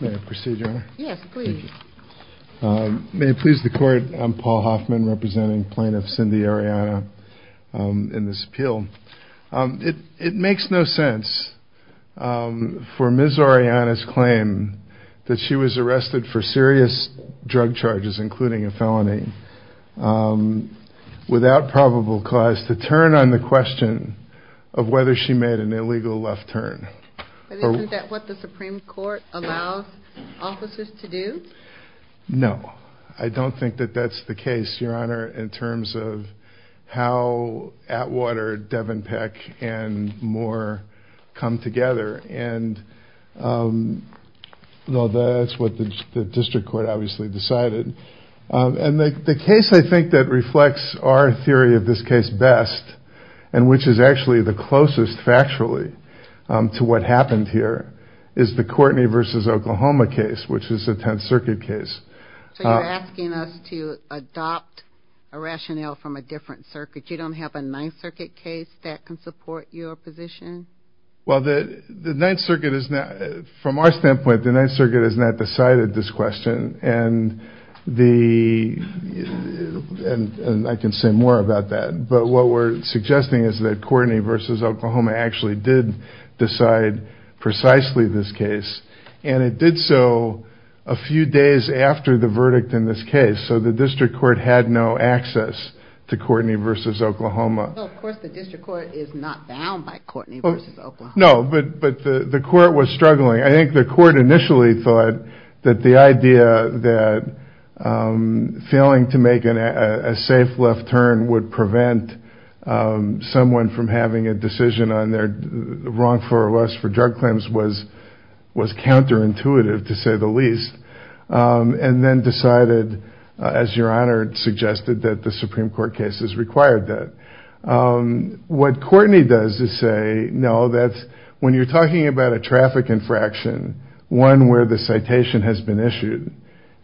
May I proceed, Your Honor? Yes, please. May it please the court, I'm Paul Hoffman representing plaintiff Cindy Orellana in this appeal. It makes no sense for Ms. Orellana's claim that she was arrested for serious drug charges, including a felony, without probable cause to turn on the question of whether she made an illegal left turn. Is that what the Supreme Court allows officers to do? No, I don't think that that's the case, Your Honor, in terms of how Atwater, Devenpeck, and Moore come together and that's what the District Court obviously decided. And the case I think that reflects our theory of this case best and which is actually the closest factually to what happened here is the Courtney v. Oklahoma case, which is a Tenth Circuit case. So you're asking us to adopt a rationale from a different circuit? You don't have a Ninth Circuit case that can support your position? Well, the Ninth Circuit is not, from our standpoint, the Ninth Circuit has not decided this question and I can say more about that, but what we're suggesting is that Courtney v. Oklahoma actually did decide precisely this case and it did so a few days after the verdict in this case, so the District Court had no access to Courtney v. Oklahoma. Of course the District Court is not bound by Courtney v. Oklahoma. No, but the Court was struggling. I think the idea that failing to make a safe left turn would prevent someone from having a decision on their wrongful arrest for drug claims was counterintuitive, to say the least, and then decided, as Your Honor suggested, that the Supreme Court cases required that. What Courtney does is say, no, that when you're talking about a traffic infraction, one where the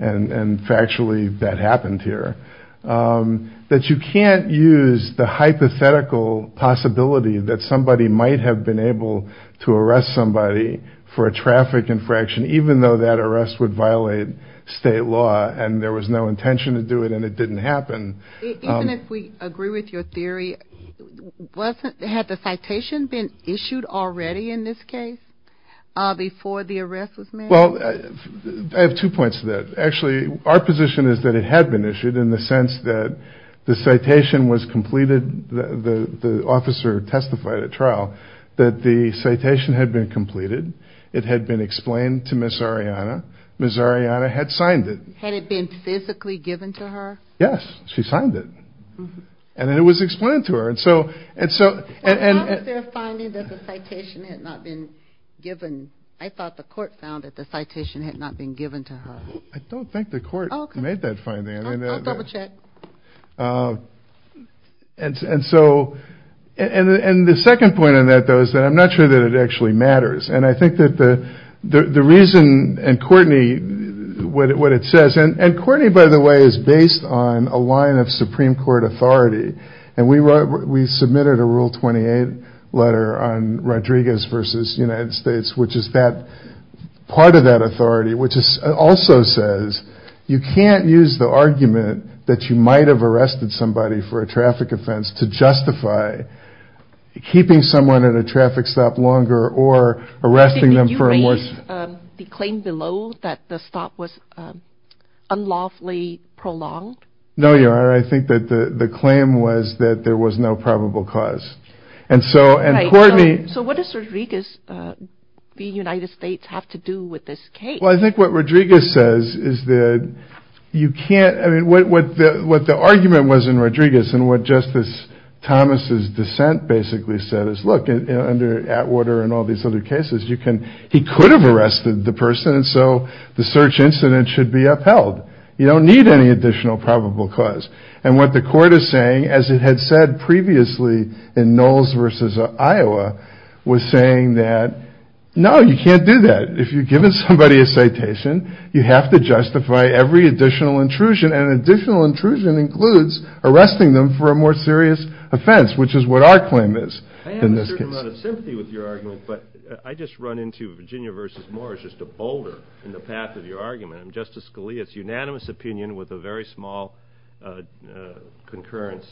and factually that happened here, that you can't use the hypothetical possibility that somebody might have been able to arrest somebody for a traffic infraction even though that arrest would violate state law and there was no intention to do it and it didn't happen. Even if we agree with your theory, had the citation been issued already in this case before the arrest was made? Well, I have two points to that. Actually, our position is that it had been issued in the sense that the citation was completed, the officer testified at trial, that the citation had been completed, it had been explained to Ms. Ariana, Ms. Ariana had signed it. Had it been physically given to her? Yes, she signed it and it was explained to her. I thought the court found that the citation had not been given to her. I don't think the court made that finding. I'll double check. And the second point on that though is that I'm not sure that it actually matters and I think that the reason, and Courtney, what it says, and Courtney by the way is based on a line of Supreme Court authority and we submitted a Rule 28 letter on Rodriguez v. United States which is part of that authority which also says you can't use the argument that you might have arrested somebody for a traffic offense to justify keeping someone at a traffic stop longer or arresting them for a more... Did you raise the claim below that the stop was unlawfully prolonged? No, I think that the claim was that there was no probable cause. And so, and Courtney... So what does Rodriguez v. United States have to do with this case? Well, I think what Rodriguez says is that you can't, I mean, what the argument was in Rodriguez and what Justice Thomas's dissent basically said is look, under Atwater and all these other cases, he could have arrested the person and so the search incident should be upheld. You don't need any additional probable cause. And what the court is saying, as it had said previously in Knowles v. Iowa, was saying that no, you can't do that. If you've given somebody a citation, you have to justify every additional intrusion and additional intrusion includes arresting them for a more serious offense, which is what our claim is in this case. I have a certain amount of sympathy with your argument, but I just run into Virginia v. Morris just a boulder in the path of your law concurrence.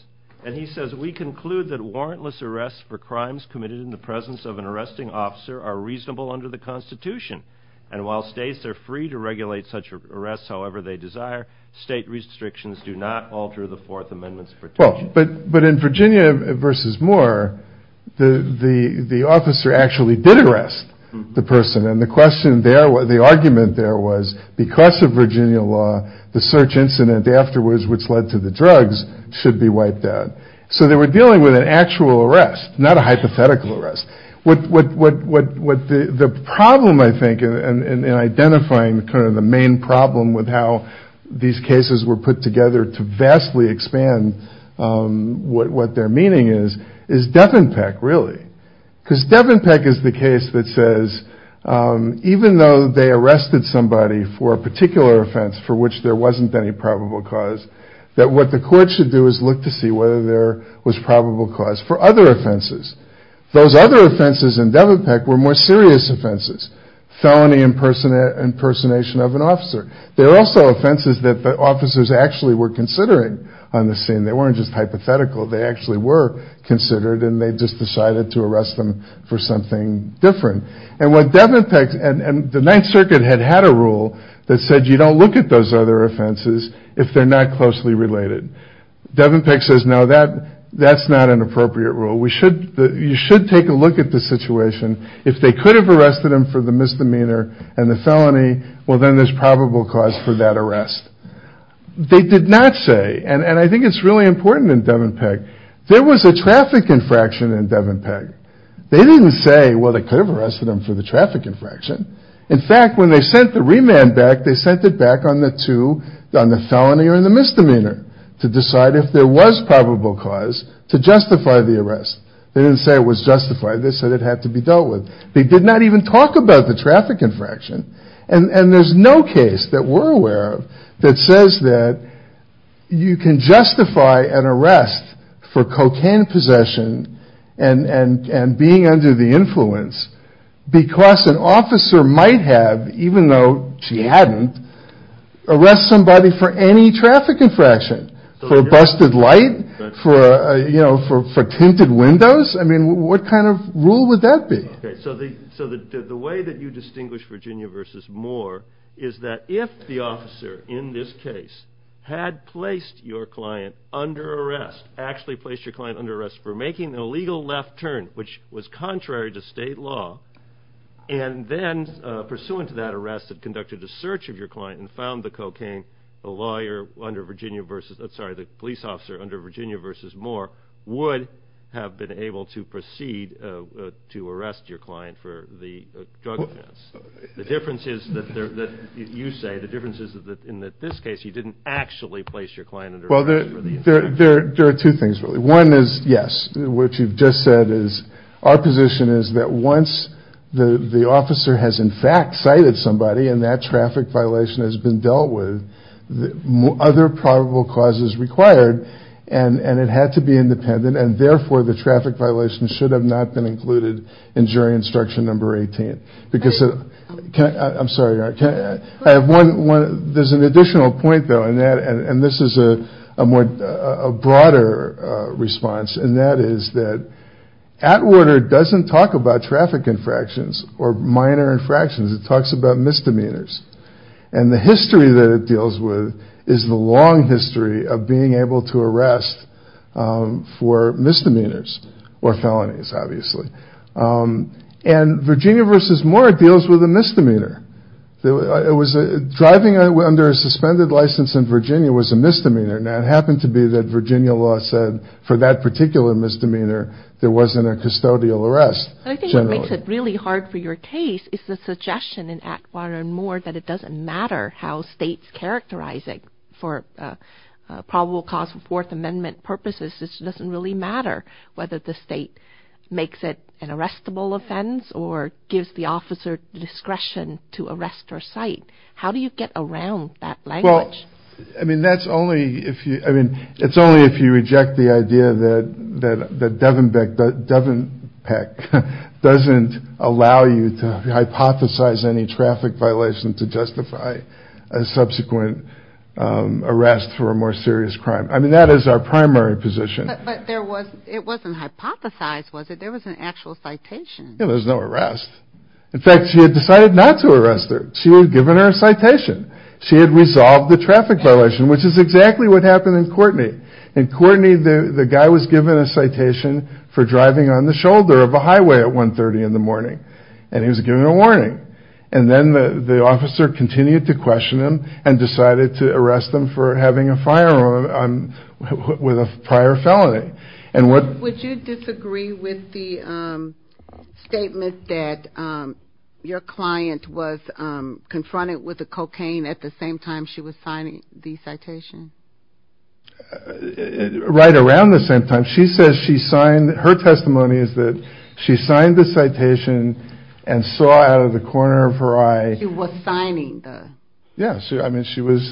And he says, we conclude that warrantless arrests for crimes committed in the presence of an arresting officer are reasonable under the Constitution. And while states are free to regulate such arrests however they desire, state restrictions do not alter the Fourth Amendment's protection. Well, but in Virginia v. Moore, the officer actually did arrest the person. And the question there, the argument there was because of Virginia law, the search incident afterwards, which led to the drugs, should be wiped out. So they were dealing with an actual arrest, not a hypothetical arrest. What the problem, I think, in identifying the main problem with how these cases were put together to vastly expand what their meaning is, is Devon Peck, really. Because Devon Peck is the case that says, even though they arrested somebody for a particular offense for which there wasn't any probable cause, that what the court should do is look to see whether there was probable cause for other offenses. Those other offenses in Devon Peck were more serious offenses. Felony impersonation of an officer. They were also offenses that the officers actually were considering on the scene. They weren't just hypothetical. They actually were considered, and they just decided to arrest them for something different. And what Devon Peck, and the Ninth Circuit had had a rule that said, you don't look at those other offenses if they're not closely related. Devon Peck says, no, that's not an appropriate rule. You should take a look at the situation. If they could have arrested him for the misdemeanor and the felony, well, then there's probable cause for that arrest. They did not say, and I think it's really important in Devon Peck, there was a traffic infraction in Devon Peck. They didn't say, well, they could have arrested him for the traffic infraction. In fact, when they sent the remand back, they sent it back on the two, on the felony and the misdemeanor, to decide if there was probable cause to justify the arrest. They didn't say it was justified. They said it had to be dealt with. They did not even talk about the traffic infraction. And there's no case that we're aware of that says that you can justify an arrest for cocaine possession and being under the influence because an officer might have, even though she hadn't, arrest somebody for any traffic infraction, for busted light, for tinted windows. I mean, what kind of rule would that be? So the way that you distinguish Virginia versus Moore is that if the officer in this case had placed your client under arrest, actually placed your client under arrest for making an illegal left turn, which was contrary to state law, and then pursuant to that arrest had conducted a search of your client and found the cocaine, the lawyer under Virginia versus Moore would have been able to proceed to arrest your client for the drug offense. The difference is that you say, the difference is that in this case you didn't actually place your client under arrest for the offense. Well, there are two things really. One is, yes, what you've just said is our position is that once the officer has in fact cited somebody and that traffic violation has been and it had to be independent and therefore the traffic violation should have not been included in jury instruction number 18 because, I'm sorry, I have one, there's an additional point though and this is a broader response and that is that Atwater doesn't talk about traffic infractions or minor infractions, it talks about misdemeanors and the history that it deals with is the long history of being able to arrest for misdemeanors or felonies obviously and Virginia versus Moore deals with a misdemeanor. It was driving under a suspended license in Virginia was a misdemeanor and it happened to be that Virginia law said for that particular misdemeanor there wasn't a custodial arrest. I think what makes it really hard for your case is the suggestion in Atwater and Moore that it doesn't matter how states characterize it for probable cause of Fourth Amendment purposes, it doesn't really matter whether the state makes it an arrestable offense or gives the officer discretion to arrest or cite. How do you get around that language? I mean that's only if you, I mean it's only if you reject the idea that Devenbeck doesn't allow you to hypothesize any traffic violation to justify a subsequent arrest for a more serious crime. I mean that is our primary position. But there was, it wasn't hypothesized was it? There was an actual citation. There was no arrest. In fact she had decided not to arrest her. She had given her a citation. She had resolved the traffic violation which is exactly what happened in Courtney. In Courtney the guy was given a citation for driving on the shoulder of a highway at 1.30 in the morning and he was given a warning. And then the officer continued to question him and decided to arrest him for having a firearm with a prior felony. Would you disagree with the statement that your client was confronted with a cocaine at the same time she was signing the citation? Right around the same time. She says she signed, her testimony is that she signed the citation and saw out of the corner of her eye. She was signing the. Yeah, I mean she was.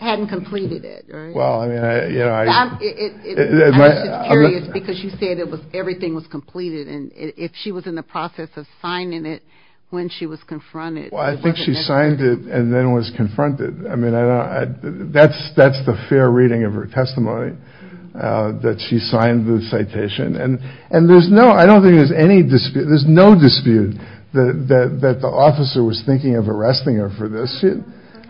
Hadn't completed it right? Well I mean I, you know. I'm just curious because you said it was, everything was completed and if she was in the process of signing it when she was confronted it wasn't necessary. Well I think she signed it and then was confronted. I mean I don't, that's the fair reading of her testimony that she signed the citation. And there's no, I don't think there's any dispute, there's no dispute that the officer was thinking of arresting her for this.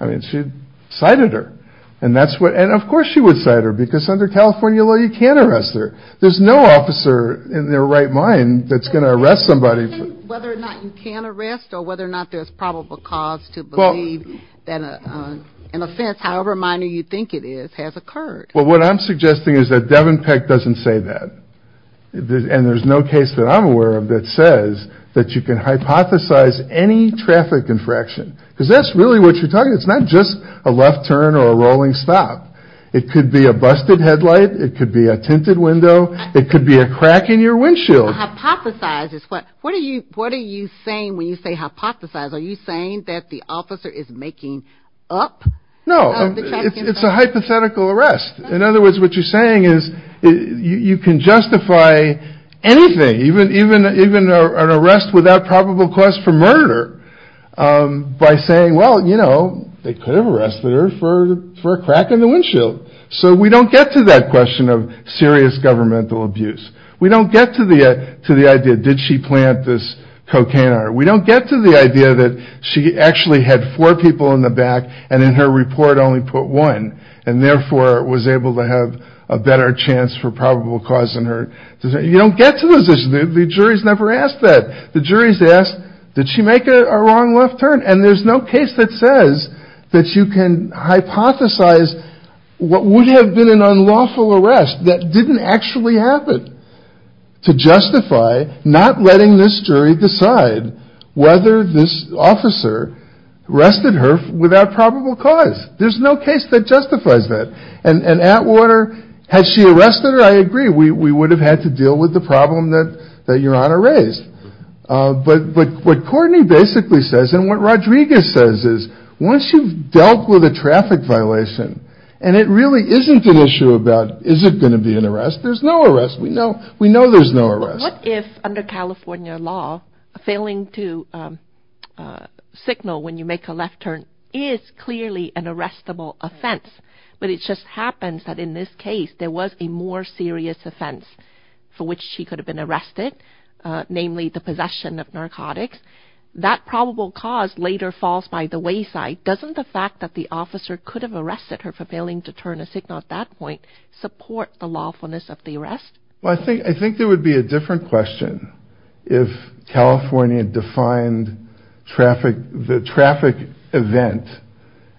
I mean she cited her and that's what, and of course she would cite her because under California law you can't arrest her. There's no officer in their right mind that's going to arrest somebody for. So you're saying whether or not you can arrest or whether or not there's probable cause to believe that an offense, however minor you think it is, has occurred. Well what I'm suggesting is that Devon Peck doesn't say that. And there's no case that I'm aware of that says that you can hypothesize any traffic infraction. Because that's really what you're talking about. It's not just a left turn or a rolling stop. It could be a busted headlight, it could be a tinted window, it could be a crack in your windshield. Hypothesize is what, what are you saying when you say hypothesize? Are you saying that the officer is making up the traffic infraction? No, it's a hypothetical arrest. In other words what you're saying is you can justify anything, even an arrest without probable cause for murder by saying, well you know, they could have arrested her for a crack in the windshield. So we don't get to that question of serious governmental abuse. We don't get to the idea, did she plant this cocaine on her? We don't get to the idea that she actually had four people in the back and in her report only put one and therefore was able to have a better chance for probable cause than her. You don't get to those issues. The jury's never asked that. The jury's asked, did she make a wrong left turn? And there's no case that says that you can hypothesize what would have been an unlawful arrest that didn't actually happen to justify not letting this jury decide whether this officer arrested her without probable cause. There's no case that justifies that. And Atwater, had she arrested her, I agree, we would have had to deal with the problem that Your Honor raised. But what Courtney basically says and what Rodriguez says is once you've dealt with a traffic violation and it really isn't an issue about is it going to be an arrest, there's no arrest. We know there's no arrest. But what if under California law, failing to signal when you make a left turn is clearly an arrestable offense? But it just happens that in this case there was a more serious offense for which she could have been arrested, namely the possession of narcotics. That probable cause later falls by the wayside. Doesn't the fact that the officer could have arrested her for failing to turn a signal at that point support the lawfulness of the arrest? I think there would be a different question if California defined the traffic event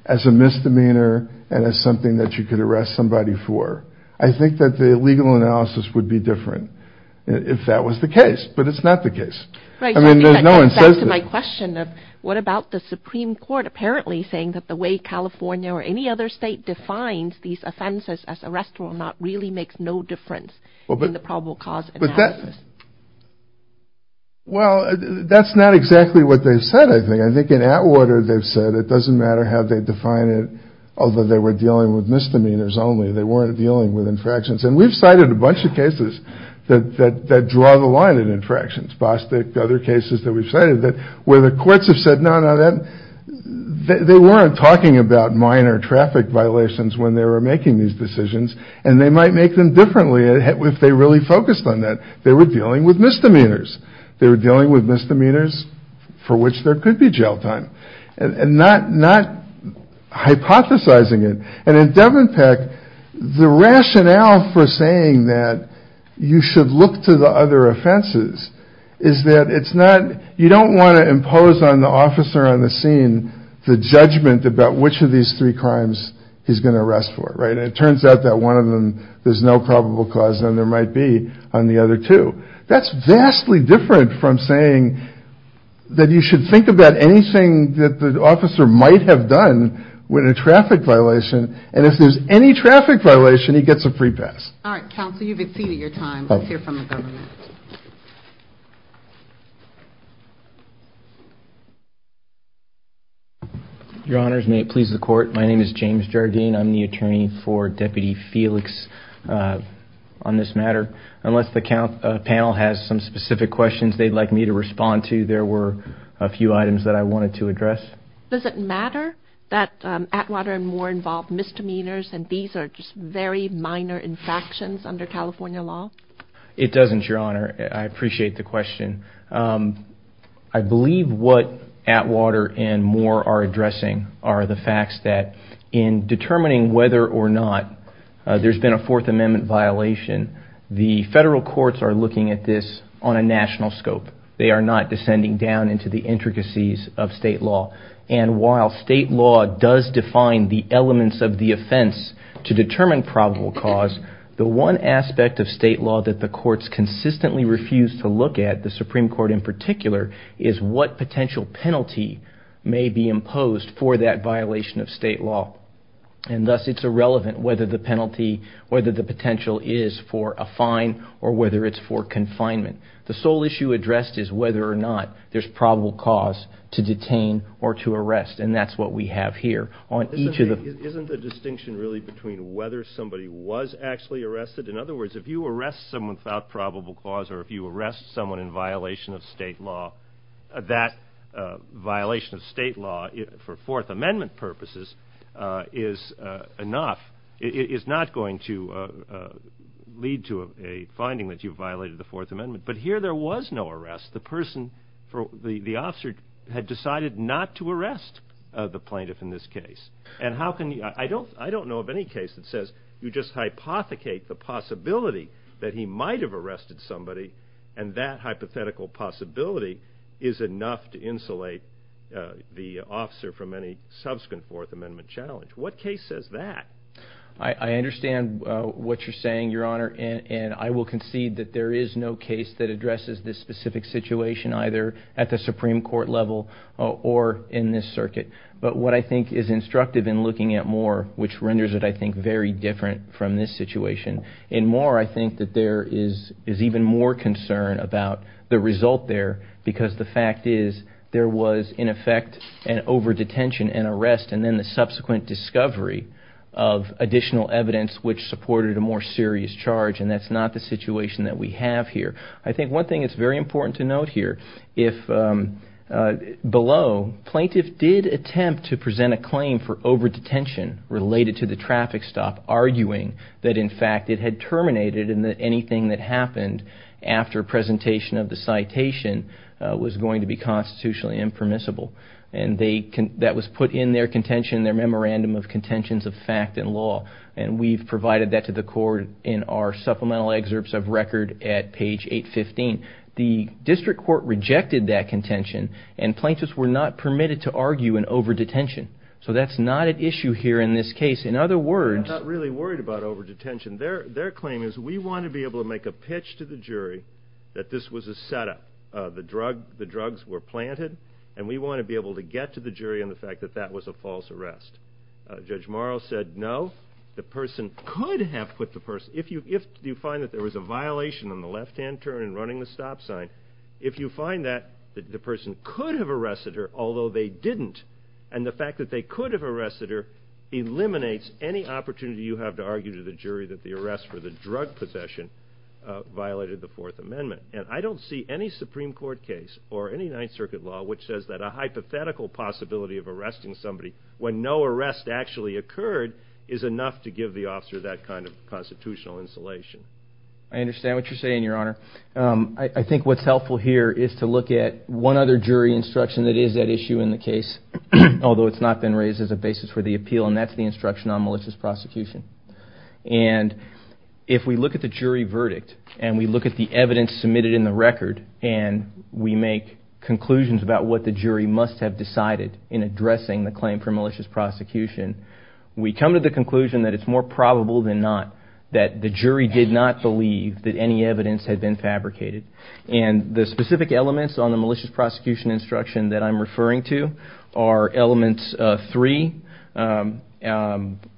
as a misdemeanor and as something that you could arrest somebody for. I think that the legal analysis would be different if that was the case. But it's not the case. Right, so I think that gets back to my question of what about the Supreme Court apparently saying that the way California or any other state defines these offenses as arrestable or not really makes no difference in the probable cause analysis? Well that's not exactly what they've said I think. I think in Atwater they've said it doesn't matter how they define it, although they were dealing with misdemeanors only. They weren't dealing with infractions. And we've cited a bunch of cases that draw the line in infractions, Bostick, other cases that we've cited, where the courts have said no, no, they weren't talking about minor traffic violations when they were making these decisions and they might make them differently if they really focused on that. They were dealing with misdemeanors. They were dealing with misdemeanors for which there could be jail time and not hypothesizing it. And in Devon Peck, the rationale for saying that you should look to the other offenses is that it's not, you don't want to impose on the officer on the scene the judgment about which of these three crimes he's going to arrest for, right? And it turns out that one of them there's no probable cause and there might be on the other two. That's vastly different from saying that you should think about anything that the officer might have done with a traffic violation and if there's any traffic violation he gets a free pass. All right, counsel, you've exceeded your time. Let's hear from the government. Your Honors, may it please the court, my name is James Jardine. I'm the attorney for Deputy Felix on this matter. Unless the panel has some specific questions they'd like me to respond to, there were a few items that I wanted to address. Does it matter that Atwater and Moore involved misdemeanors and these are just very minor infractions under California law? It doesn't, Your Honor. I appreciate the question. I believe what Atwater and Moore are addressing are the facts that in determining whether or not there's been a Fourth Amendment violation, the federal courts are looking at this on a national scope. They are not descending down into the intricacies of state law. And while state law does define the elements of the offense to determine probable cause, the one aspect of state law that the courts consistently refuse to look at, the Supreme Court in particular, is what potential penalty may be imposed for that violation of state law. And thus it's irrelevant whether the penalty, whether the potential is for a fine or whether it's for confinement. The sole issue addressed is whether or not there's probable cause to detain or to arrest and that's what we have here. Isn't the distinction really between whether somebody was actually arrested? In other words, if you arrest someone without probable cause or if you arrest someone in violation of state law, that violation of state law for Fourth Amendment purposes is enough. It is not going to lead to a finding that you violated the Fourth Amendment. But here there was no arrest. The person, the officer had decided not to arrest the plaintiff in this case. And how can you, I don't know of any case that says you just hypothecate the possibility that he might have arrested somebody and that hypothetical possibility is enough to insulate the officer from any subsequent Fourth Amendment challenge. What case says that? I understand what you're saying, Your Honor, and I will concede that there is no case that suggests there was an arrest in this situation either at the Supreme Court level or in this circuit. But what I think is instructive in looking at Moore, which renders it I think very different from this situation, in Moore I think that there is even more concern about the result there because the fact is there was in effect an overdetention and arrest and then the subsequent discovery of additional evidence which supported a more serious charge and that's not the situation that we have here. I think one thing that's very important to note here, if below plaintiff did attempt to present a claim for overdetention related to the traffic stop, arguing that in fact it had terminated and that anything that happened after presentation of the citation was going to be constitutionally impermissible and that was put in their contention, their memorandum of contentions of fact and law and we've provided that to the court in our supplemental excerpts of record at page 815. The district court rejected that contention and plaintiffs were not permitted to argue an overdetention. So that's not an issue here in this case. In other words... We're not really worried about overdetention. Their claim is we want to be able to make a pitch to the jury that this was a setup. The drugs were planted and we want to be able to get to the jury on the fact that that was a false arrest. Judge Morrow said no, the there was a violation on the left-hand turn in running the stop sign. If you find that the person could have arrested her, although they didn't, and the fact that they could have arrested her eliminates any opportunity you have to argue to the jury that the arrest for the drug possession violated the Fourth Amendment. And I don't see any Supreme Court case or any Ninth Circuit law which says that a hypothetical possibility of arresting somebody when no arrest actually occurred is enough to give the officer that kind of constitutional insulation. I understand what you're saying, Your Honor. I think what's helpful here is to look at one other jury instruction that is at issue in the case, although it's not been raised as a basis for the appeal, and that's the instruction on malicious prosecution. And if we look at the jury verdict and we look at the evidence submitted in the record and we make conclusions about what the jury must have decided in addressing the claim for malicious prosecution, the jury did not believe that any evidence had been fabricated. And the specific elements on the malicious prosecution instruction that I'm referring to are element 3,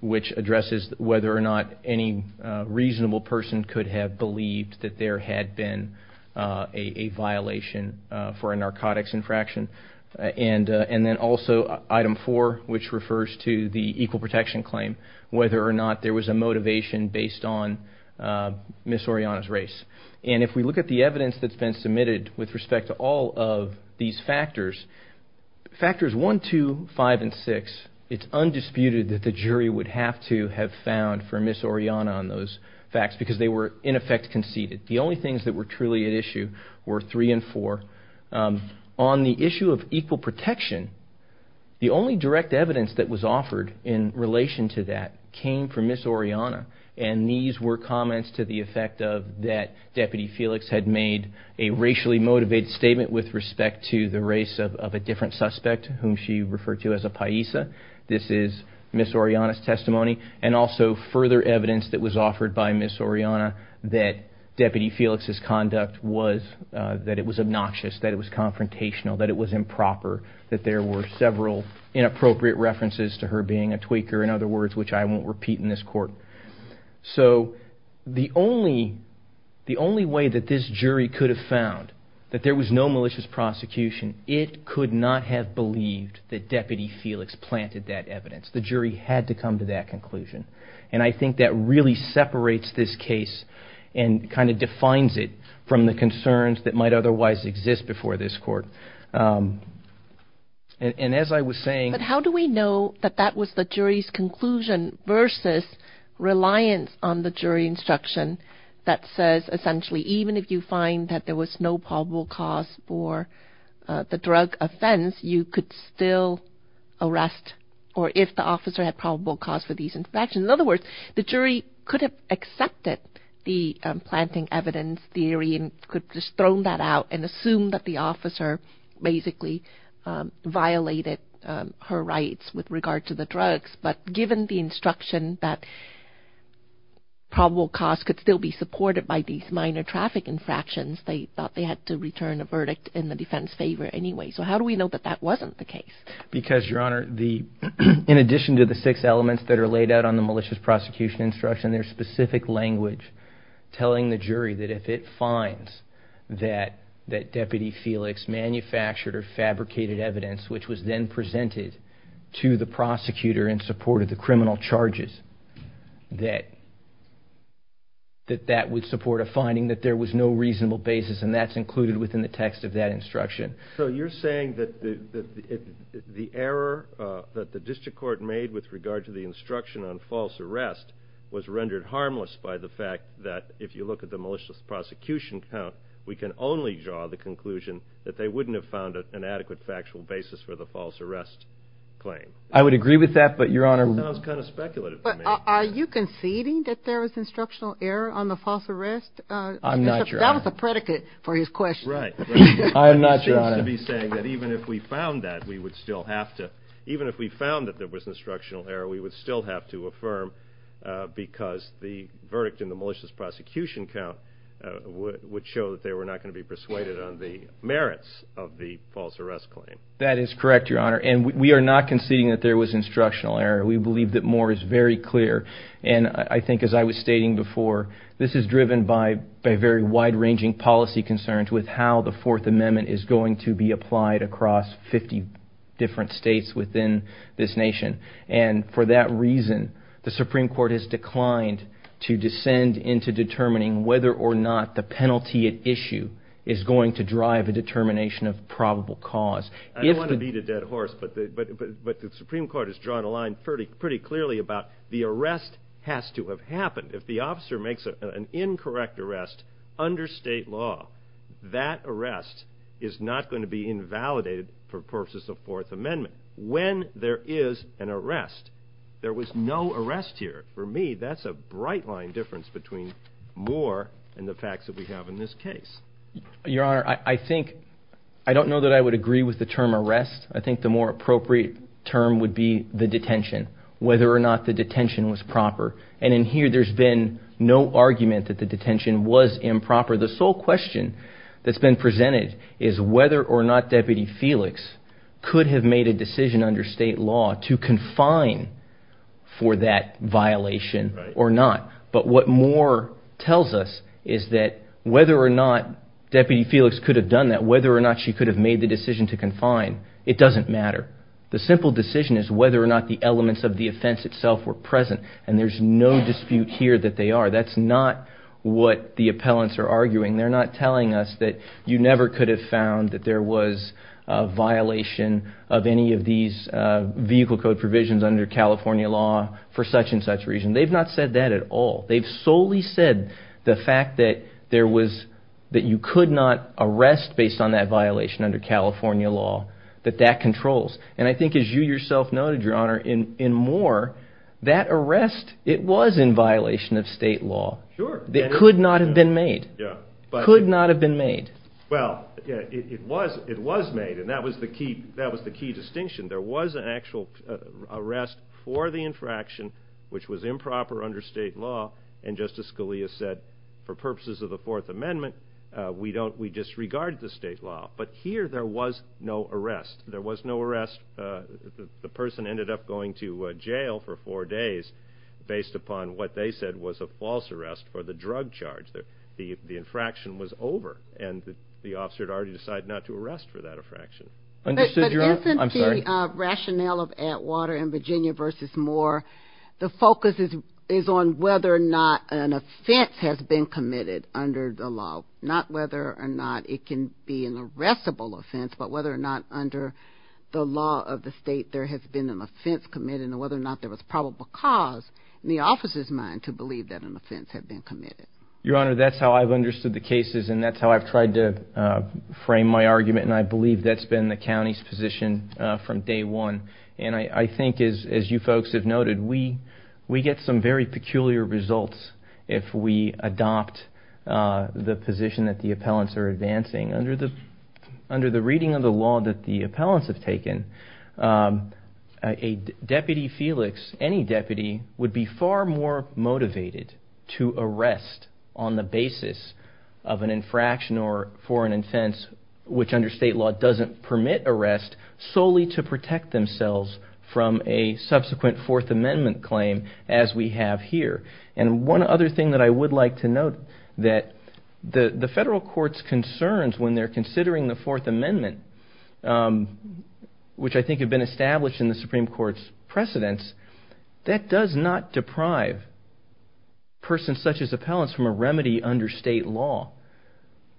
which addresses whether or not any reasonable person could have believed that there had been a violation for a narcotics infraction, and then also item 4, which refers to the Ms. Orellana's race. And if we look at the evidence that's been submitted with respect to all of these factors, factors 1, 2, 5, and 6, it's undisputed that the jury would have to have found for Ms. Orellana on those facts because they were in effect conceded. The only things that were truly at issue were 3 and 4. On the issue of equal protection, the only direct evidence that was offered in relation to that came from Ms. Orellana, and these were comments to the effect of that Deputy Felix had made a racially motivated statement with respect to the race of a different suspect, whom she referred to as a paisa. This is Ms. Orellana's testimony, and also further evidence that was offered by Ms. Orellana that Deputy Felix's conduct was, that it was obnoxious, that it was confrontational, that it was improper, that there were several inappropriate references to her being a tweaker, in other So the only, the only way that this jury could have found that there was no malicious prosecution, it could not have believed that Deputy Felix planted that evidence. The jury had to come to that conclusion. And I think that really separates this case and kind of defines it from the concerns that might otherwise exist before this court. And as I was saying... What was the jury's conclusion versus reliance on the jury instruction that says essentially even if you find that there was no probable cause for the drug offense, you could still arrest or if the officer had probable cause for these infections. In other words, the jury could have accepted the planting evidence theory and could have just thrown that out and assumed that the officer basically violated her rights with regard to the drugs. But given the instruction that probable cause could still be supported by these minor traffic infractions, they thought they had to return a verdict in the defense favor anyway. So how do we know that that wasn't the case? Because Your Honor, the, in addition to the six elements that are laid out on the malicious prosecution instruction, there's specific language telling the jury that if it finds that Deputy Felix manufactured or fabricated evidence which was then presented to the prosecutor in support of the criminal charges, that that would support a finding that there was no reasonable basis and that's included within the text of that instruction. So you're saying that the error that the district court made with regard to the instruction on false arrest was rendered harmless by the fact that if you look at the malicious prosecution count, we can only draw the conclusion that they wouldn't have found an adequate factual basis for the false arrest claim. I would agree with that, but Your Honor... That sounds kind of speculative to me. Are you conceding that there was instructional error on the false arrest? I'm not, Your Honor. That was a predicate for his question. Right. I'm not, Your Honor. He seems to be saying that even if we found that, we would still have to, even if we found that there was instructional error, we would still have to affirm because the verdict in the malicious prosecution count would show that they were not going to be persuaded on the merits of the false arrest claim. That is correct, Your Honor, and we are not conceding that there was instructional error. We believe that Moore is very clear, and I think as I was stating before, this is driven by very wide-ranging policy concerns with how the Fourth Amendment is going to be applied across 50 different states within this nation, and for that reason, the Supreme Court has declined to descend into determining whether or not the penalty at issue is going to drive a determination of probable cause. I don't want to beat a dead horse, but the Supreme Court has drawn a line pretty clearly about the arrest has to have happened. If the officer makes an incorrect arrest under state law, that arrest is not going to be validated for purposes of Fourth Amendment. When there is an arrest, there was no arrest here. For me, that's a bright-line difference between Moore and the facts that we have in this case. Your Honor, I think, I don't know that I would agree with the term arrest. I think the more appropriate term would be the detention, whether or not the detention was proper, and in here, there's been no argument that the detention was improper. The sole question that's been presented is whether or not Deputy Felix could have made a decision under state law to confine for that violation or not. But what Moore tells us is that whether or not Deputy Felix could have done that, whether or not she could have made the decision to confine, it doesn't matter. The simple decision is whether or not the elements of the offense itself were present, and there's no dispute here that they are. That's not what the appellants are arguing. They're not telling us that you never could have found that there was a violation of any of these vehicle code provisions under California law for such and such reason. They've not said that at all. They've solely said the fact that there was, that you could not arrest based on that violation under California law, that that controls. And I think, as you yourself noted, Your Honor, in Moore, that arrest, it was in violation of state law. Sure. It could not have been made. Yeah. Could not have been made. Well, it was made, and that was the key distinction. There was an actual arrest for the infraction, which was improper under state law, and Justice Scalia said, for purposes of the Fourth Amendment, we disregard the state law. But here, there was no arrest. There was no arrest. The person ended up going to jail for four days based upon what they said was a false arrest for the drug charge. The infraction was over, and the officer had already decided not to arrest for that infraction. Understood, Your Honor. I'm sorry. But isn't the rationale of Atwater and Virginia versus Moore, the focus is on whether or not an offense has been committed under the law, not whether or not it can be an arrestable offense, but whether or not under the law of the state, there has been an offense committed and whether or not there was probable cause in the officer's mind to believe that an offense had been committed? Your Honor, that's how I've understood the cases, and that's how I've tried to frame my argument, and I believe that's been the county's position from day one. And I think, as you folks have noted, we get some very peculiar results if we adopt the position that the appellants are advancing. Under the reading of the law that the appellants have taken, a Deputy Felix, any deputy, would be far more motivated to arrest on the basis of an infraction or for an offense which under state law doesn't permit arrest solely to protect themselves from a subsequent Fourth Amendment claim as we have here. And one other thing that I would like to note, that the federal court's concerns when they're considering the Fourth Amendment, which I think have been established in the Supreme Court's precedents, that does not deprive persons such as appellants from a remedy under state law,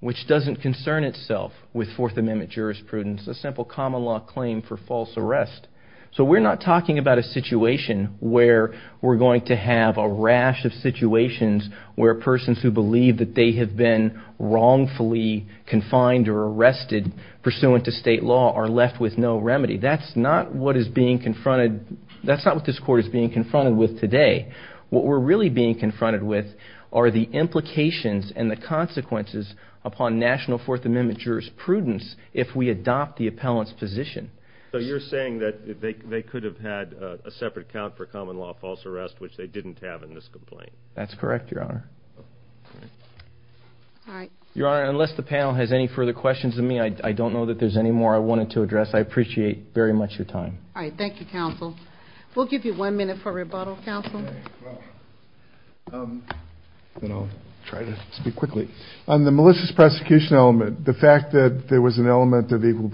which doesn't concern itself with Fourth Amendment jurisprudence, a simple common law claim for false arrest. So we're not talking about a situation where we're going to have a rash of situations where persons who believe that they have been wrongfully confined or arrested pursuant to state law are left with no remedy. That's not what is being confronted, that's not what this court is being confronted with today. What we're really being confronted with are the implications and the consequences upon National Fourth Amendment jurisprudence if we adopt the appellant's position. So you're saying that they could have had a separate count for common law false arrest, which they didn't have in this complaint? That's correct, Your Honor. Your Honor, unless the panel has any further questions of me, I don't know that there's any more I wanted to address. I appreciate very much your time. All right. Thank you, counsel. We'll give you one minute for rebuttal, counsel. And I'll try to speak quickly. On the malicious prosecution element, the fact that there was an element of equal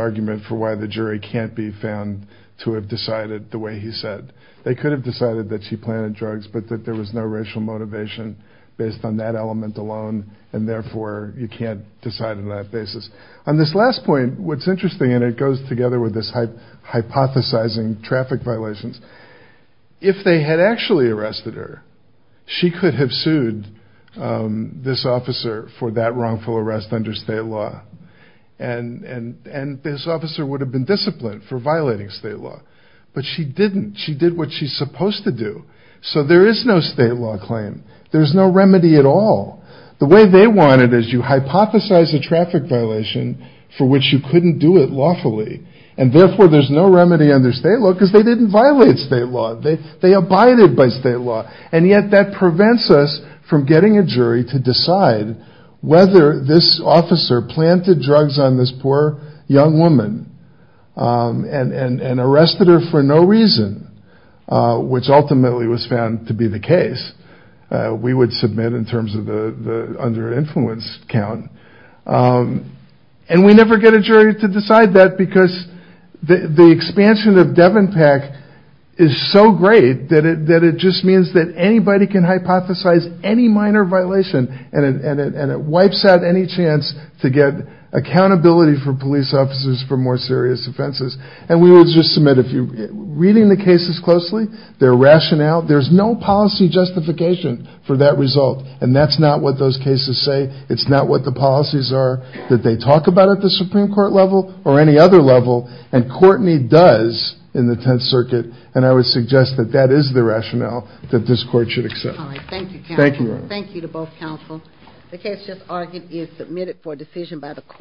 argument for why the jury can't be found to have decided the way he said they could have decided that she planted drugs, but that there was no racial motivation based on that element alone. And therefore, you can't decide on that basis. On this last point, what's interesting, and it goes together with this hypothesizing traffic violations, if they had actually arrested her, she could have sued this officer for that wrongful arrest under state law. And this officer would have been disciplined for violating state law. But she didn't. She did what she's supposed to do. So there is no state law claim. There's no remedy at all. The way they want it is you hypothesize a traffic violation for which you couldn't do it lawfully. And therefore, there's no remedy under state law because they didn't violate state law. They abided by state law. And yet, that prevents us from getting a jury to decide whether this officer planted drugs on this poor young woman and arrested her for no reason, which ultimately was found to be the case. We would submit in terms of the under influence count. And we never get a jury to decide that because the expansion of DevonPAC is so great that it just means that anybody can hypothesize any minor violation and it wipes out any chance to get accountability for police officers for more serious offenses. And we will just submit if you're reading the cases closely, their rationale. There's no policy justification for that result. And that's not what those cases say. It's not what the policies are that they talk about at the Supreme Court level or any other level. And Courtney does in the Tenth Circuit. And I would suggest that that is the rationale that this court should accept. Thank you. Thank you to both counsel. The case just argued is submitted for decision by the court.